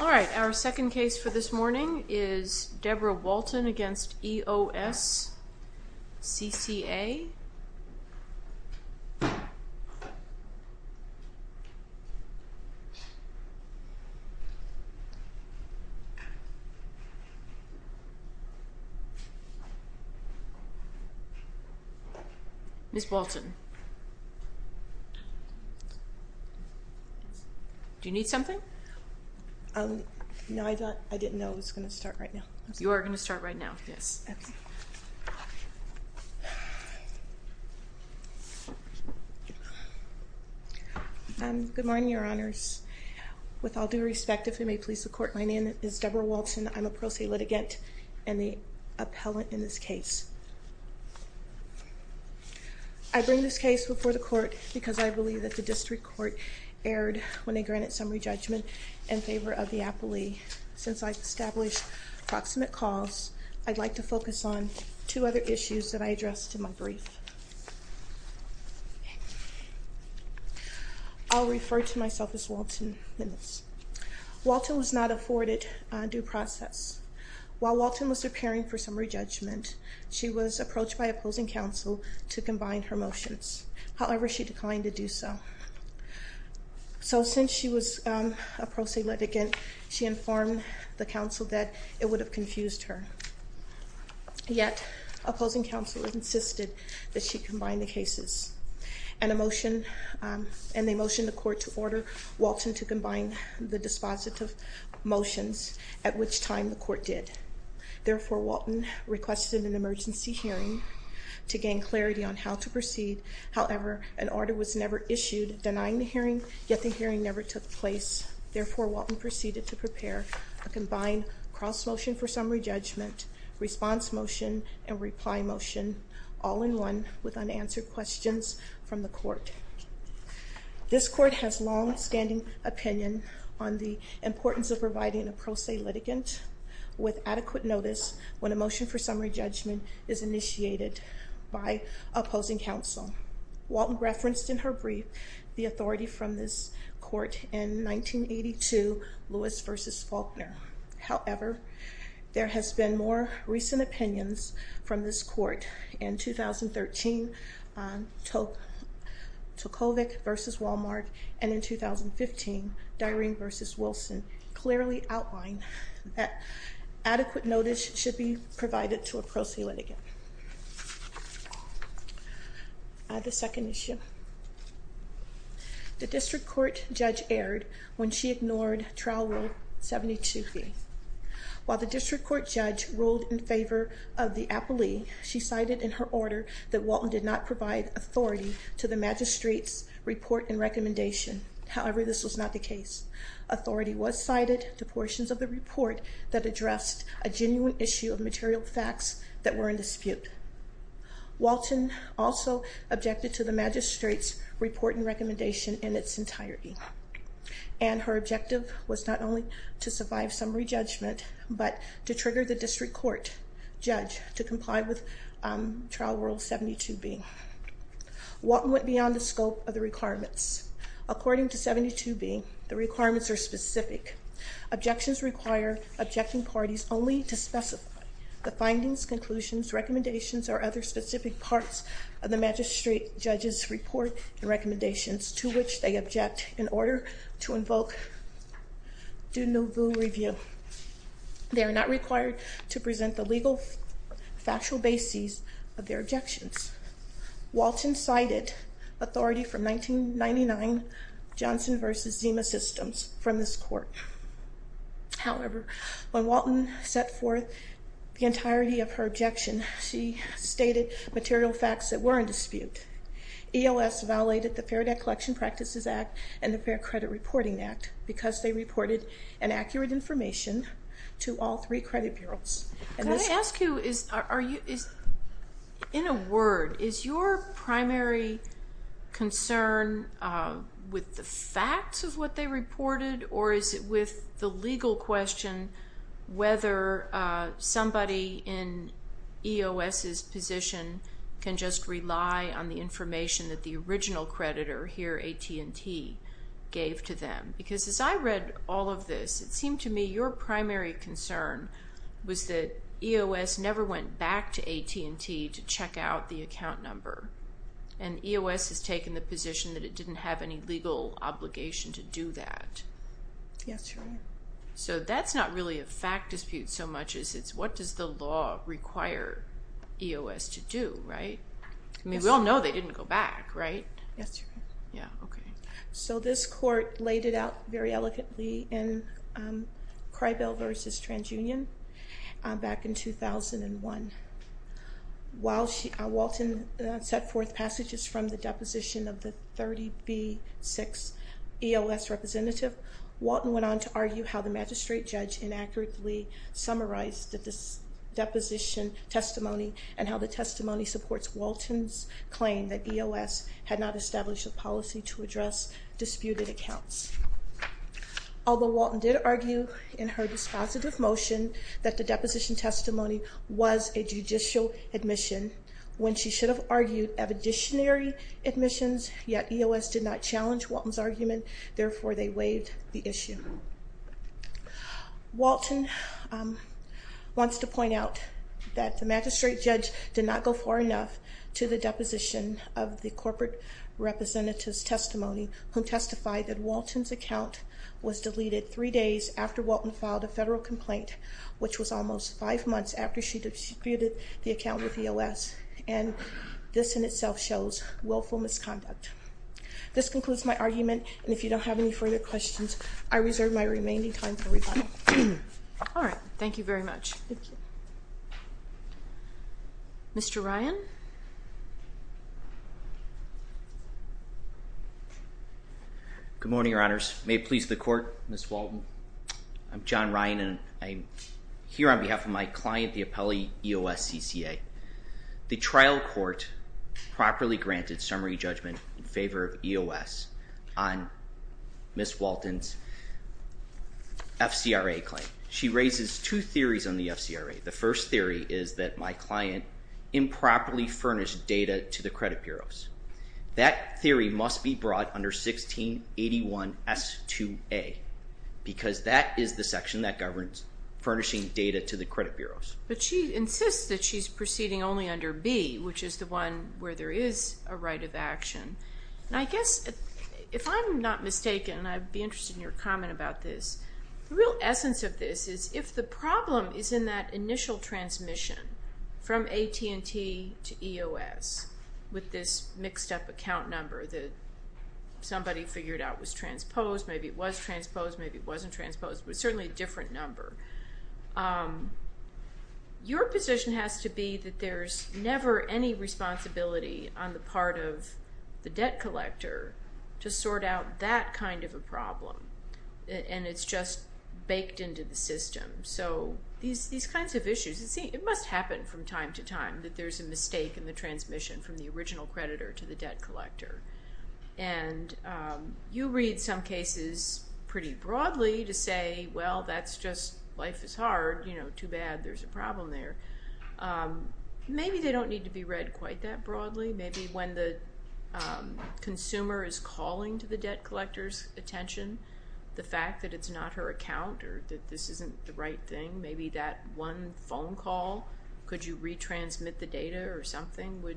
Alright, our second case for this morning is Deborah Walton v. EOS CCA. Ms. Walton, do you need something? No, I didn't know it was going to start right now. You are going to start right now, yes. Good morning, your honors. With all due respect, if it may please the court, my name is Deborah Walton. I'm a pro se litigant and the appellant in this case. I bring this case before the court because I believe that the district court erred when they granted summary judgment in favor of the appellee. Since I've established proximate cause, I'd like to focus on two other issues that I addressed in my brief. I'll refer to myself as Walton in this. Walton was not afforded due process. While Walton was preparing for summary judgment, she was approached by opposing counsel to combine her motions. However, she declined to do so. So since she was a pro se litigant, she informed the counsel that it would have confused her. Yet, opposing counsel insisted that she combine the cases. And they motioned the court to order Walton to combine the dispositive motions, at which time the court did. Therefore, Walton requested an emergency hearing to gain clarity on how to proceed. However, an order was never issued denying the hearing, yet the hearing never took place. Therefore, Walton proceeded to prepare a combined cross motion for summary judgment, response motion, and reply motion, all in one with unanswered questions from the court. This court has longstanding opinion on the importance of providing a pro se litigant with adequate notice when a motion for summary judgment is initiated by opposing counsel. Walton referenced in her brief the authority from this court in 1982, Lewis v. Faulkner. However, there has been more recent opinions from this court in 2013, Tokovic v. Walmart, and in 2015, Dyering v. Wilson clearly outlined that adequate notice should be provided to a pro se litigant. The second issue. The district court judge erred when she ignored trial rule 72B. While the district court judge ruled in favor of the appellee, she cited in her order that Walton did not provide authority to the magistrate's report and recommendation. However, this was not the case. Authority was cited to portions of the report that addressed a genuine issue of material facts that were in dispute. Walton also objected to the magistrate's report and recommendation in its entirety. And her objective was not only to survive summary judgment, but to trigger the district court judge to comply with trial rule 72B. Walton went beyond the scope of the requirements. According to 72B, the requirements are specific. Objections require objecting parties only to specify the findings, conclusions, recommendations, or other specific parts of the magistrate judge's report and recommendations to which they object in order to invoke du nouveau review. They are not required to present the legal factual bases of their objections. Walton cited authority from 1999 Johnson v. Zima systems from this court. However, when Walton set forth the entirety of her objection, she stated material facts that were in dispute. EOS violated the Fair Debt Collection Practices Act and the Fair Credit Reporting Act because they reported inaccurate information to all three credit bureaus. Can I ask you, in a word, is your primary concern with the facts of what they reported, or is it with the legal question whether somebody in EOS's position can just rely on the information that the original creditor here, AT&T, gave to them? Because as I read all of this, it seemed to me your primary concern was that EOS never went back to AT&T to check out the account number. And EOS has taken the position that it didn't have any legal obligation to do that. Yes, Your Honor. So that's not really a fact dispute so much as it's what does the law require EOS to do, right? I mean, we all know they didn't go back, right? Yes, Your Honor. Yeah, okay. So this court laid it out very eloquently in Cribel v. TransUnion back in 2001. While Walton set forth passages from the deposition of the 30B6 EOS representative, Walton went on to argue how the magistrate judge inaccurately summarized the deposition testimony and how the testimony supports Walton's claim that EOS had not established a policy to address disputed accounts. Although Walton did argue in her dispositive motion that the deposition testimony was a judicial admission when she should have argued of additionary admissions, yet EOS did not challenge Walton's argument, therefore they waived the issue. Walton wants to point out that the magistrate judge did not go far enough to the deposition of the corporate representative's testimony who testified that Walton's account was deleted three days after Walton filed a federal complaint, which was almost five months after she disputed the account with EOS, and this in itself shows willful misconduct. This concludes my argument, and if you don't have any further questions, I reserve my remaining time for rebuttal. All right. Thank you very much. Thank you. Mr. Ryan? Good morning, Your Honors. May it please the Court, Ms. Walton. I'm John Ryan, and I'm here on behalf of my client, the appellee EOS CCA. The trial court properly granted summary judgment in favor of EOS on Ms. Walton's FCRA claim. She raises two theories on the FCRA. The first theory is that my client improperly furnished data to the credit bureaus. That theory must be brought under 1681S2A because that is the section that governs furnishing data to the credit bureaus. But she insists that she's proceeding only under B, which is the one where there is a right of action. And I guess if I'm not mistaken, and I'd be interested in your comment about this, the real essence of this is if the problem is in that initial transmission from AT&T to EOS with this mixed-up account number that somebody figured out was transposed, maybe it was transposed, maybe it wasn't transposed, but certainly a different number, your position has to be that there's never any responsibility on the part of the debt collector to sort out that kind of a problem, and it's just baked into the system. So these kinds of issues, it must happen from time to time that there's a mistake in the transmission from the original creditor to the debt collector. And you read some cases pretty broadly to say, well, that's just life is hard. Too bad there's a problem there. Maybe they don't need to be read quite that broadly. Maybe when the consumer is calling to the debt collector's attention, the fact that it's not her account or that this isn't the right thing, maybe that one phone call, could you retransmit the data or something would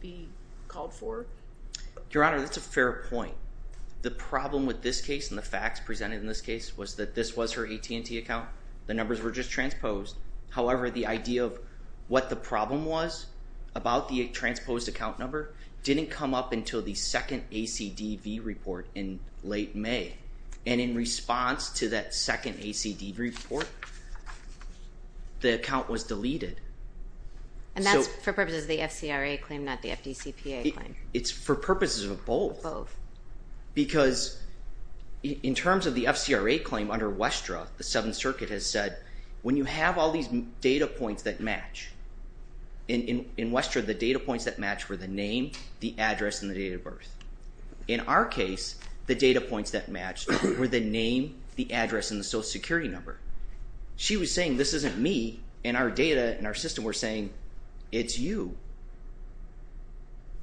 be called for? Your Honor, that's a fair point. The problem with this case and the facts presented in this case was that this was her AT&T account. The numbers were just transposed. However, the idea of what the problem was about the transposed account number didn't come up until the second ACDV report in late May. And in response to that second ACDV report, the account was deleted. And that's for purposes of the FCRA claim, not the FDCPA claim? It's for purposes of both because in terms of the FCRA claim under Westra, the Seventh Circuit has said when you have all these data points that match, in Westra, the data points that match were the name, the address, and the date of birth. In our case, the data points that matched were the name, the address, and the Social Security number. She was saying, this isn't me, and our data and our system were saying, it's you.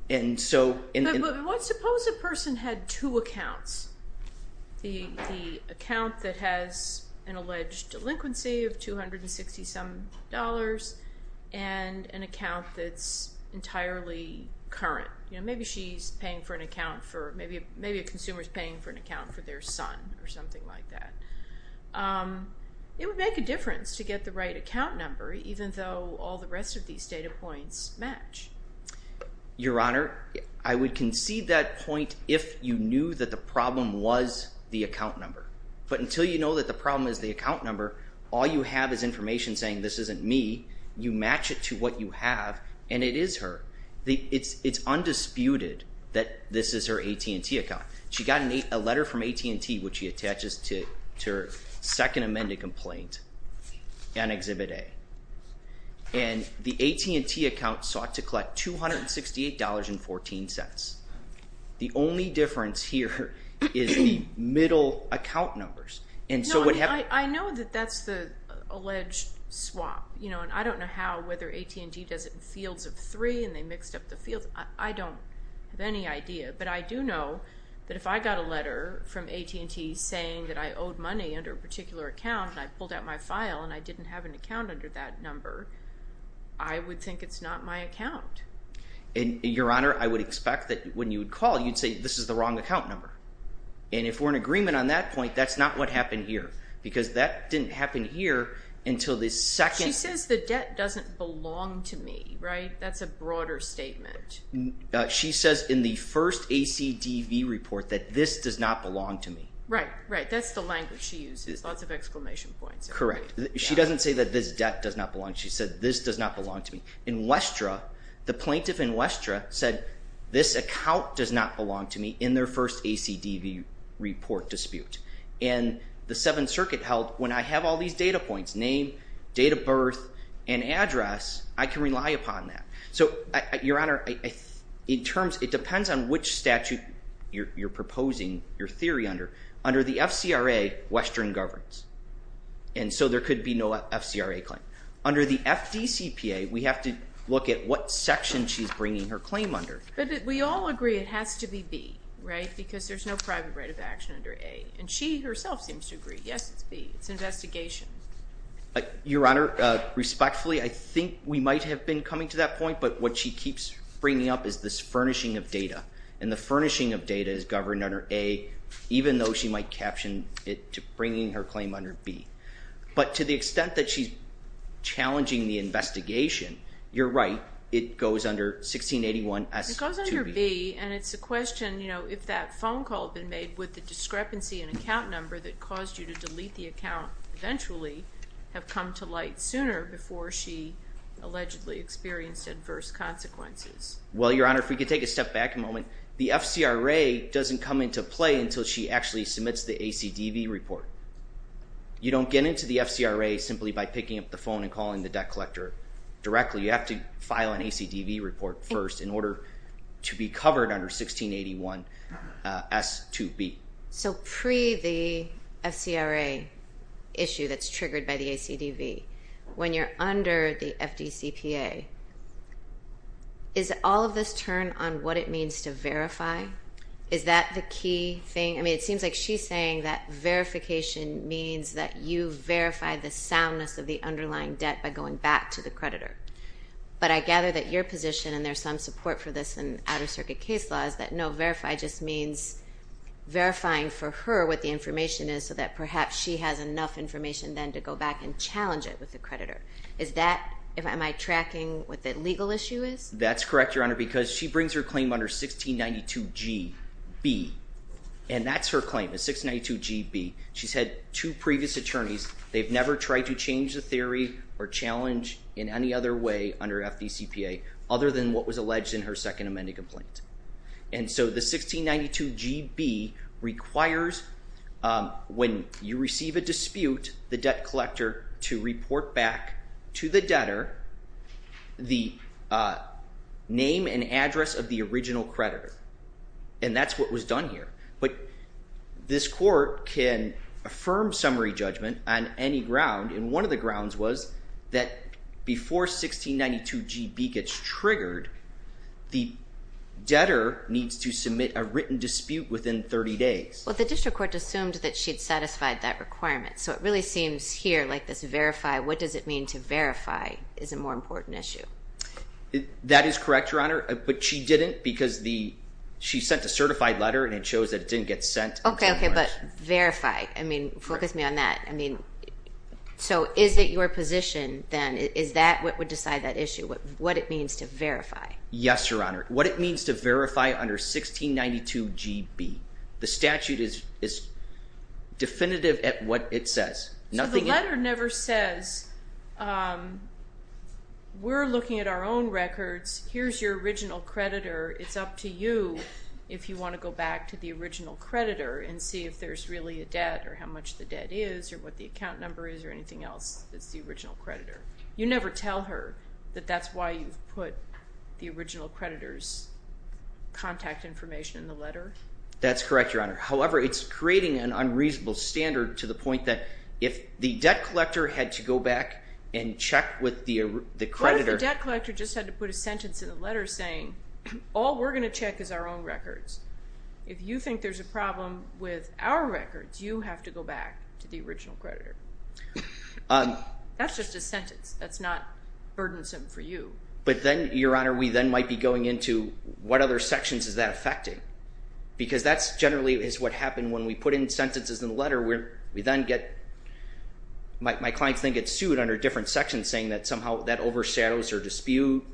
And so... But suppose a person had two accounts. The account that has an alleged delinquency of $260-some and an account that's entirely current. Maybe a consumer is paying for an account for their son or something like that. It would make a difference to get the right account number even though all the rest of these data points match. Your Honor, I would concede that point if you knew that the problem was the account number. But until you know that the problem is the account number, all you have is information saying, this isn't me. You match it to what you have, and it is her. It's undisputed that this is her AT&T account. She got a letter from AT&T which she attaches to her second amended complaint on Exhibit A. And the AT&T account sought to collect $268.14. The only difference here is the middle account numbers. I know that that's the alleged swap. I don't know how whether AT&T does it in fields of three and they mixed up the fields. I don't have any idea. But I do know that if I got a letter from AT&T saying that I owed money under a particular account and I pulled out my file and I didn't have an account under that number, I would think it's not my account. Your Honor, I would expect that when you would call, you'd say this is the wrong account number. And if we're in agreement on that point, that's not what happened here. Because that didn't happen here until the second. She says the debt doesn't belong to me, right? That's a broader statement. She says in the first ACDV report that this does not belong to me. Right, right. That's the language she uses. Lots of exclamation points. Correct. She doesn't say that this debt does not belong. She said this does not belong to me. In Westra, the plaintiff in Westra said this account does not belong to me in their first ACDV report dispute. And the Seventh Circuit held when I have all these data points, name, date of birth, and address, I can rely upon that. So, Your Honor, it depends on which statute you're proposing your theory under. Under the FCRA, Westra governs. And so there could be no FCRA claim. Under the FDCPA, we have to look at what section she's bringing her claim under. But we all agree it has to be B, right? Because there's no private right of action under A. And she herself seems to agree, yes, it's B. It's an investigation. Your Honor, respectfully, I think we might have been coming to that point. But what she keeps bringing up is this furnishing of data. And the furnishing of data is governed under A, even though she might caption it to bringing her claim under B. But to the extent that she's challenging the investigation, you're right. It goes under 1681S2B. It goes under B, and it's a question, you know, if that phone call had been made, would the discrepancy in account number that caused you to delete the account eventually have come to light sooner before she allegedly experienced adverse consequences? Well, Your Honor, if we could take a step back a moment. The FCRA doesn't come into play until she actually submits the ACDV report. You don't get into the FCRA simply by picking up the phone and calling the debt collector directly. You have to file an ACDV report first in order to be covered under 1681S2B. So pre the FCRA issue that's triggered by the ACDV, when you're under the FDCPA, is all of this turned on what it means to verify? Is that the key thing? I mean, it seems like she's saying that verification means that you verify the soundness of the underlying debt by going back to the creditor. But I gather that your position, and there's some support for this in Outer Circuit case law, is that no, verify just means verifying for her what the information is so that perhaps she has enough information then to go back and challenge it with the creditor. Is that, am I tracking what the legal issue is? That's correct, Your Honor, because she brings her claim under 1692GB. And that's her claim is 1692GB. She's had two previous attorneys. They've never tried to change the theory or challenge in any other way under FDCPA other than what was alleged in her Second Amendment complaint. And so the 1692GB requires when you receive a dispute, the debt collector to report back to the debtor the name and address of the original creditor. And that's what was done here. But this court can affirm summary judgment on any ground, and one of the grounds was that before 1692GB gets triggered, the debtor needs to submit a written dispute within 30 days. Well, the district court assumed that she'd satisfied that requirement. So it really seems here like this verify, what does it mean to verify, is a more important issue. That is correct, Your Honor, but she didn't because she sent a certified letter and it shows that it didn't get sent. Okay, okay, but verify. I mean, focus me on that. So is it your position then, is that what would decide that issue, what it means to verify? Yes, Your Honor. What it means to verify under 1692GB. The statute is definitive at what it says. So the letter never says, we're looking at our own records. Here's your original creditor. It's up to you if you want to go back to the original creditor and see if there's really a debt or how much the debt is or what the account number is or anything else that's the original creditor. You never tell her that that's why you've put the original creditor's contact information in the letter? That's correct, Your Honor. However, it's creating an unreasonable standard to the point that if the debt collector had to go back and check with the creditor. So the debt collector just had to put a sentence in the letter saying, all we're going to check is our own records. If you think there's a problem with our records, you have to go back to the original creditor. That's just a sentence. That's not burdensome for you. But then, Your Honor, we then might be going into what other sections is that affecting? Because that generally is what happened when we put in sentences in the letter. My clients then get sued under different sections saying that somehow that overshadows their dispute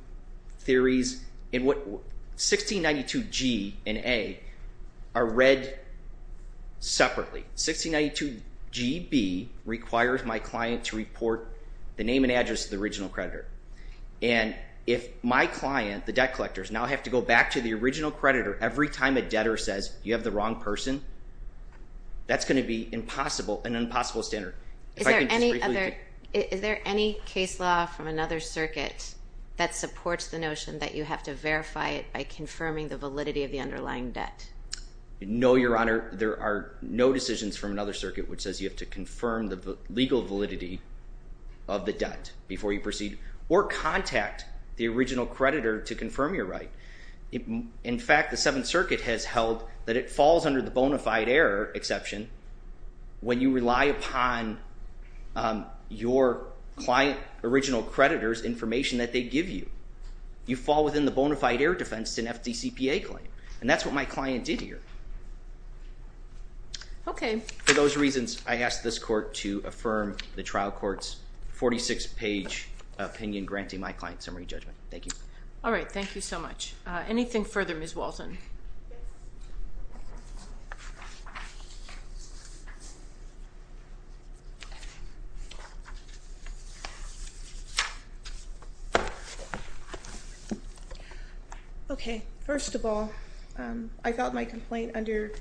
theories. 1692G and A are read separately. 1692GB requires my client to report the name and address of the original creditor. And if my client, the debt collectors, now have to go back to the original creditor every time a debtor says, you have the wrong person, that's going to be an impossible standard. Is there any case law from another circuit that supports the notion that you have to verify it by confirming the validity of the underlying debt? No, Your Honor. There are no decisions from another circuit which says you have to confirm the legal validity of the debt before you proceed or contact the original creditor to confirm your right. In fact, the Seventh Circuit has held that it falls under the bona fide error exception when you rely upon your client original creditor's information that they give you. You fall within the bona fide error defense to an FDCPA claim. And that's what my client did here. Okay. For those reasons, I ask this court to affirm the trial court's 46-page opinion granting my client summary judgment. Thank you. All right. Thank you so much. Anything further, Ms. Walton? Okay. First of all, I filed my complaint under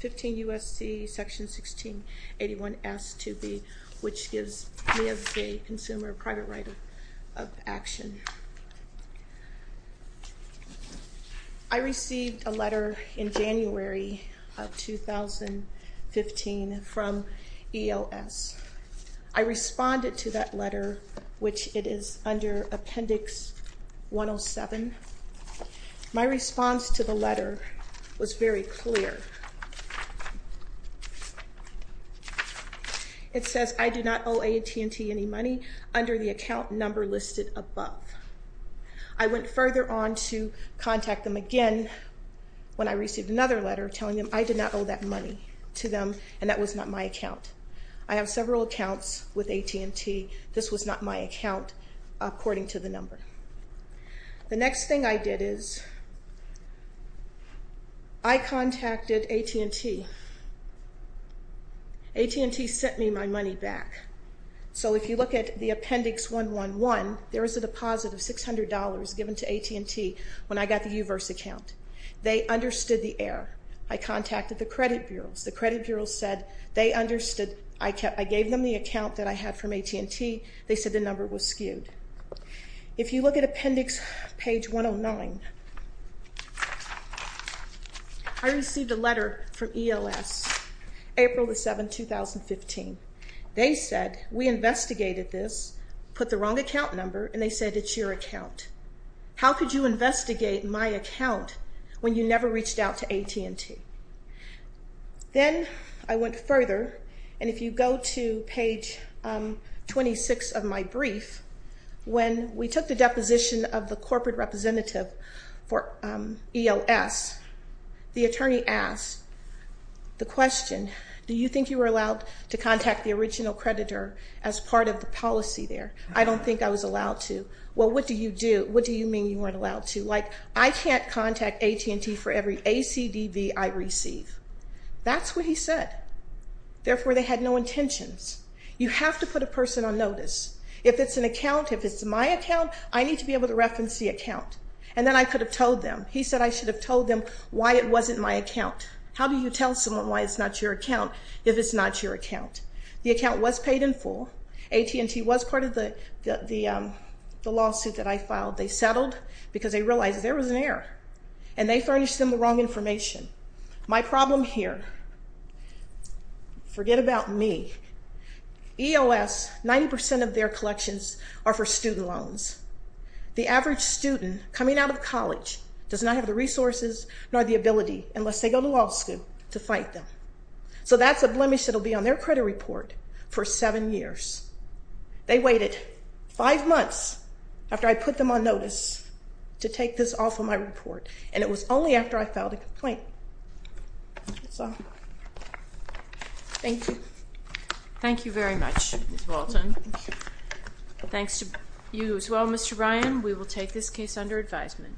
15 U.S.C. Section 1681.S.2.B., which gives me as a consumer a private right of action. I received a letter in January of 2015 from EOS. I responded to that letter, which it is under Appendix 107. My response to the letter was very clear. It says, I do not owe AT&T any money under the account number listed above. I went further on to contact them again when I received another letter telling them I did not owe that money to them and that was not my account. I have several accounts with AT&T. This was not my account according to the number. The next thing I did is I contacted AT&T. AT&T sent me my money back. So if you look at the Appendix 111, there is a deposit of $600 given to AT&T when I got the U-verse account. They understood the error. I contacted the credit bureaus. The credit bureaus said they understood. I gave them the account that I had from AT&T. They said the number was skewed. If you look at Appendix page 109, I received a letter from EOS, April 7, 2015. They said, we investigated this, put the wrong account number, and they said it's your account. How could you investigate my account when you never reached out to AT&T? Then I went further, and if you go to page 26 of my brief, when we took the deposition of the corporate representative for EOS, the attorney asked the question, do you think you were allowed to contact the original creditor as part of the policy there? I don't think I was allowed to. Well, what do you do? What do you mean you weren't allowed to? Like, I can't contact AT&T for every ACDV I receive. That's what he said. Therefore, they had no intentions. You have to put a person on notice. If it's an account, if it's my account, I need to be able to reference the account. And then I could have told them. He said I should have told them why it wasn't my account. How do you tell someone why it's not your account if it's not your account? The account was paid in full. AT&T was part of the lawsuit that I filed. They settled because they realized there was an error, and they furnished them the wrong information. My problem here, forget about me, EOS, 90% of their collections are for student loans. The average student coming out of college does not have the resources nor the ability, unless they go to law school, to fight them. So that's a blemish that will be on their credit report for seven years. They waited five months after I put them on notice to take this off of my report, and it was only after I filed a complaint. That's all. Thank you. Thank you very much, Ms. Walton. Thanks to you as well, Mr. Ryan. We will take this case under advisement.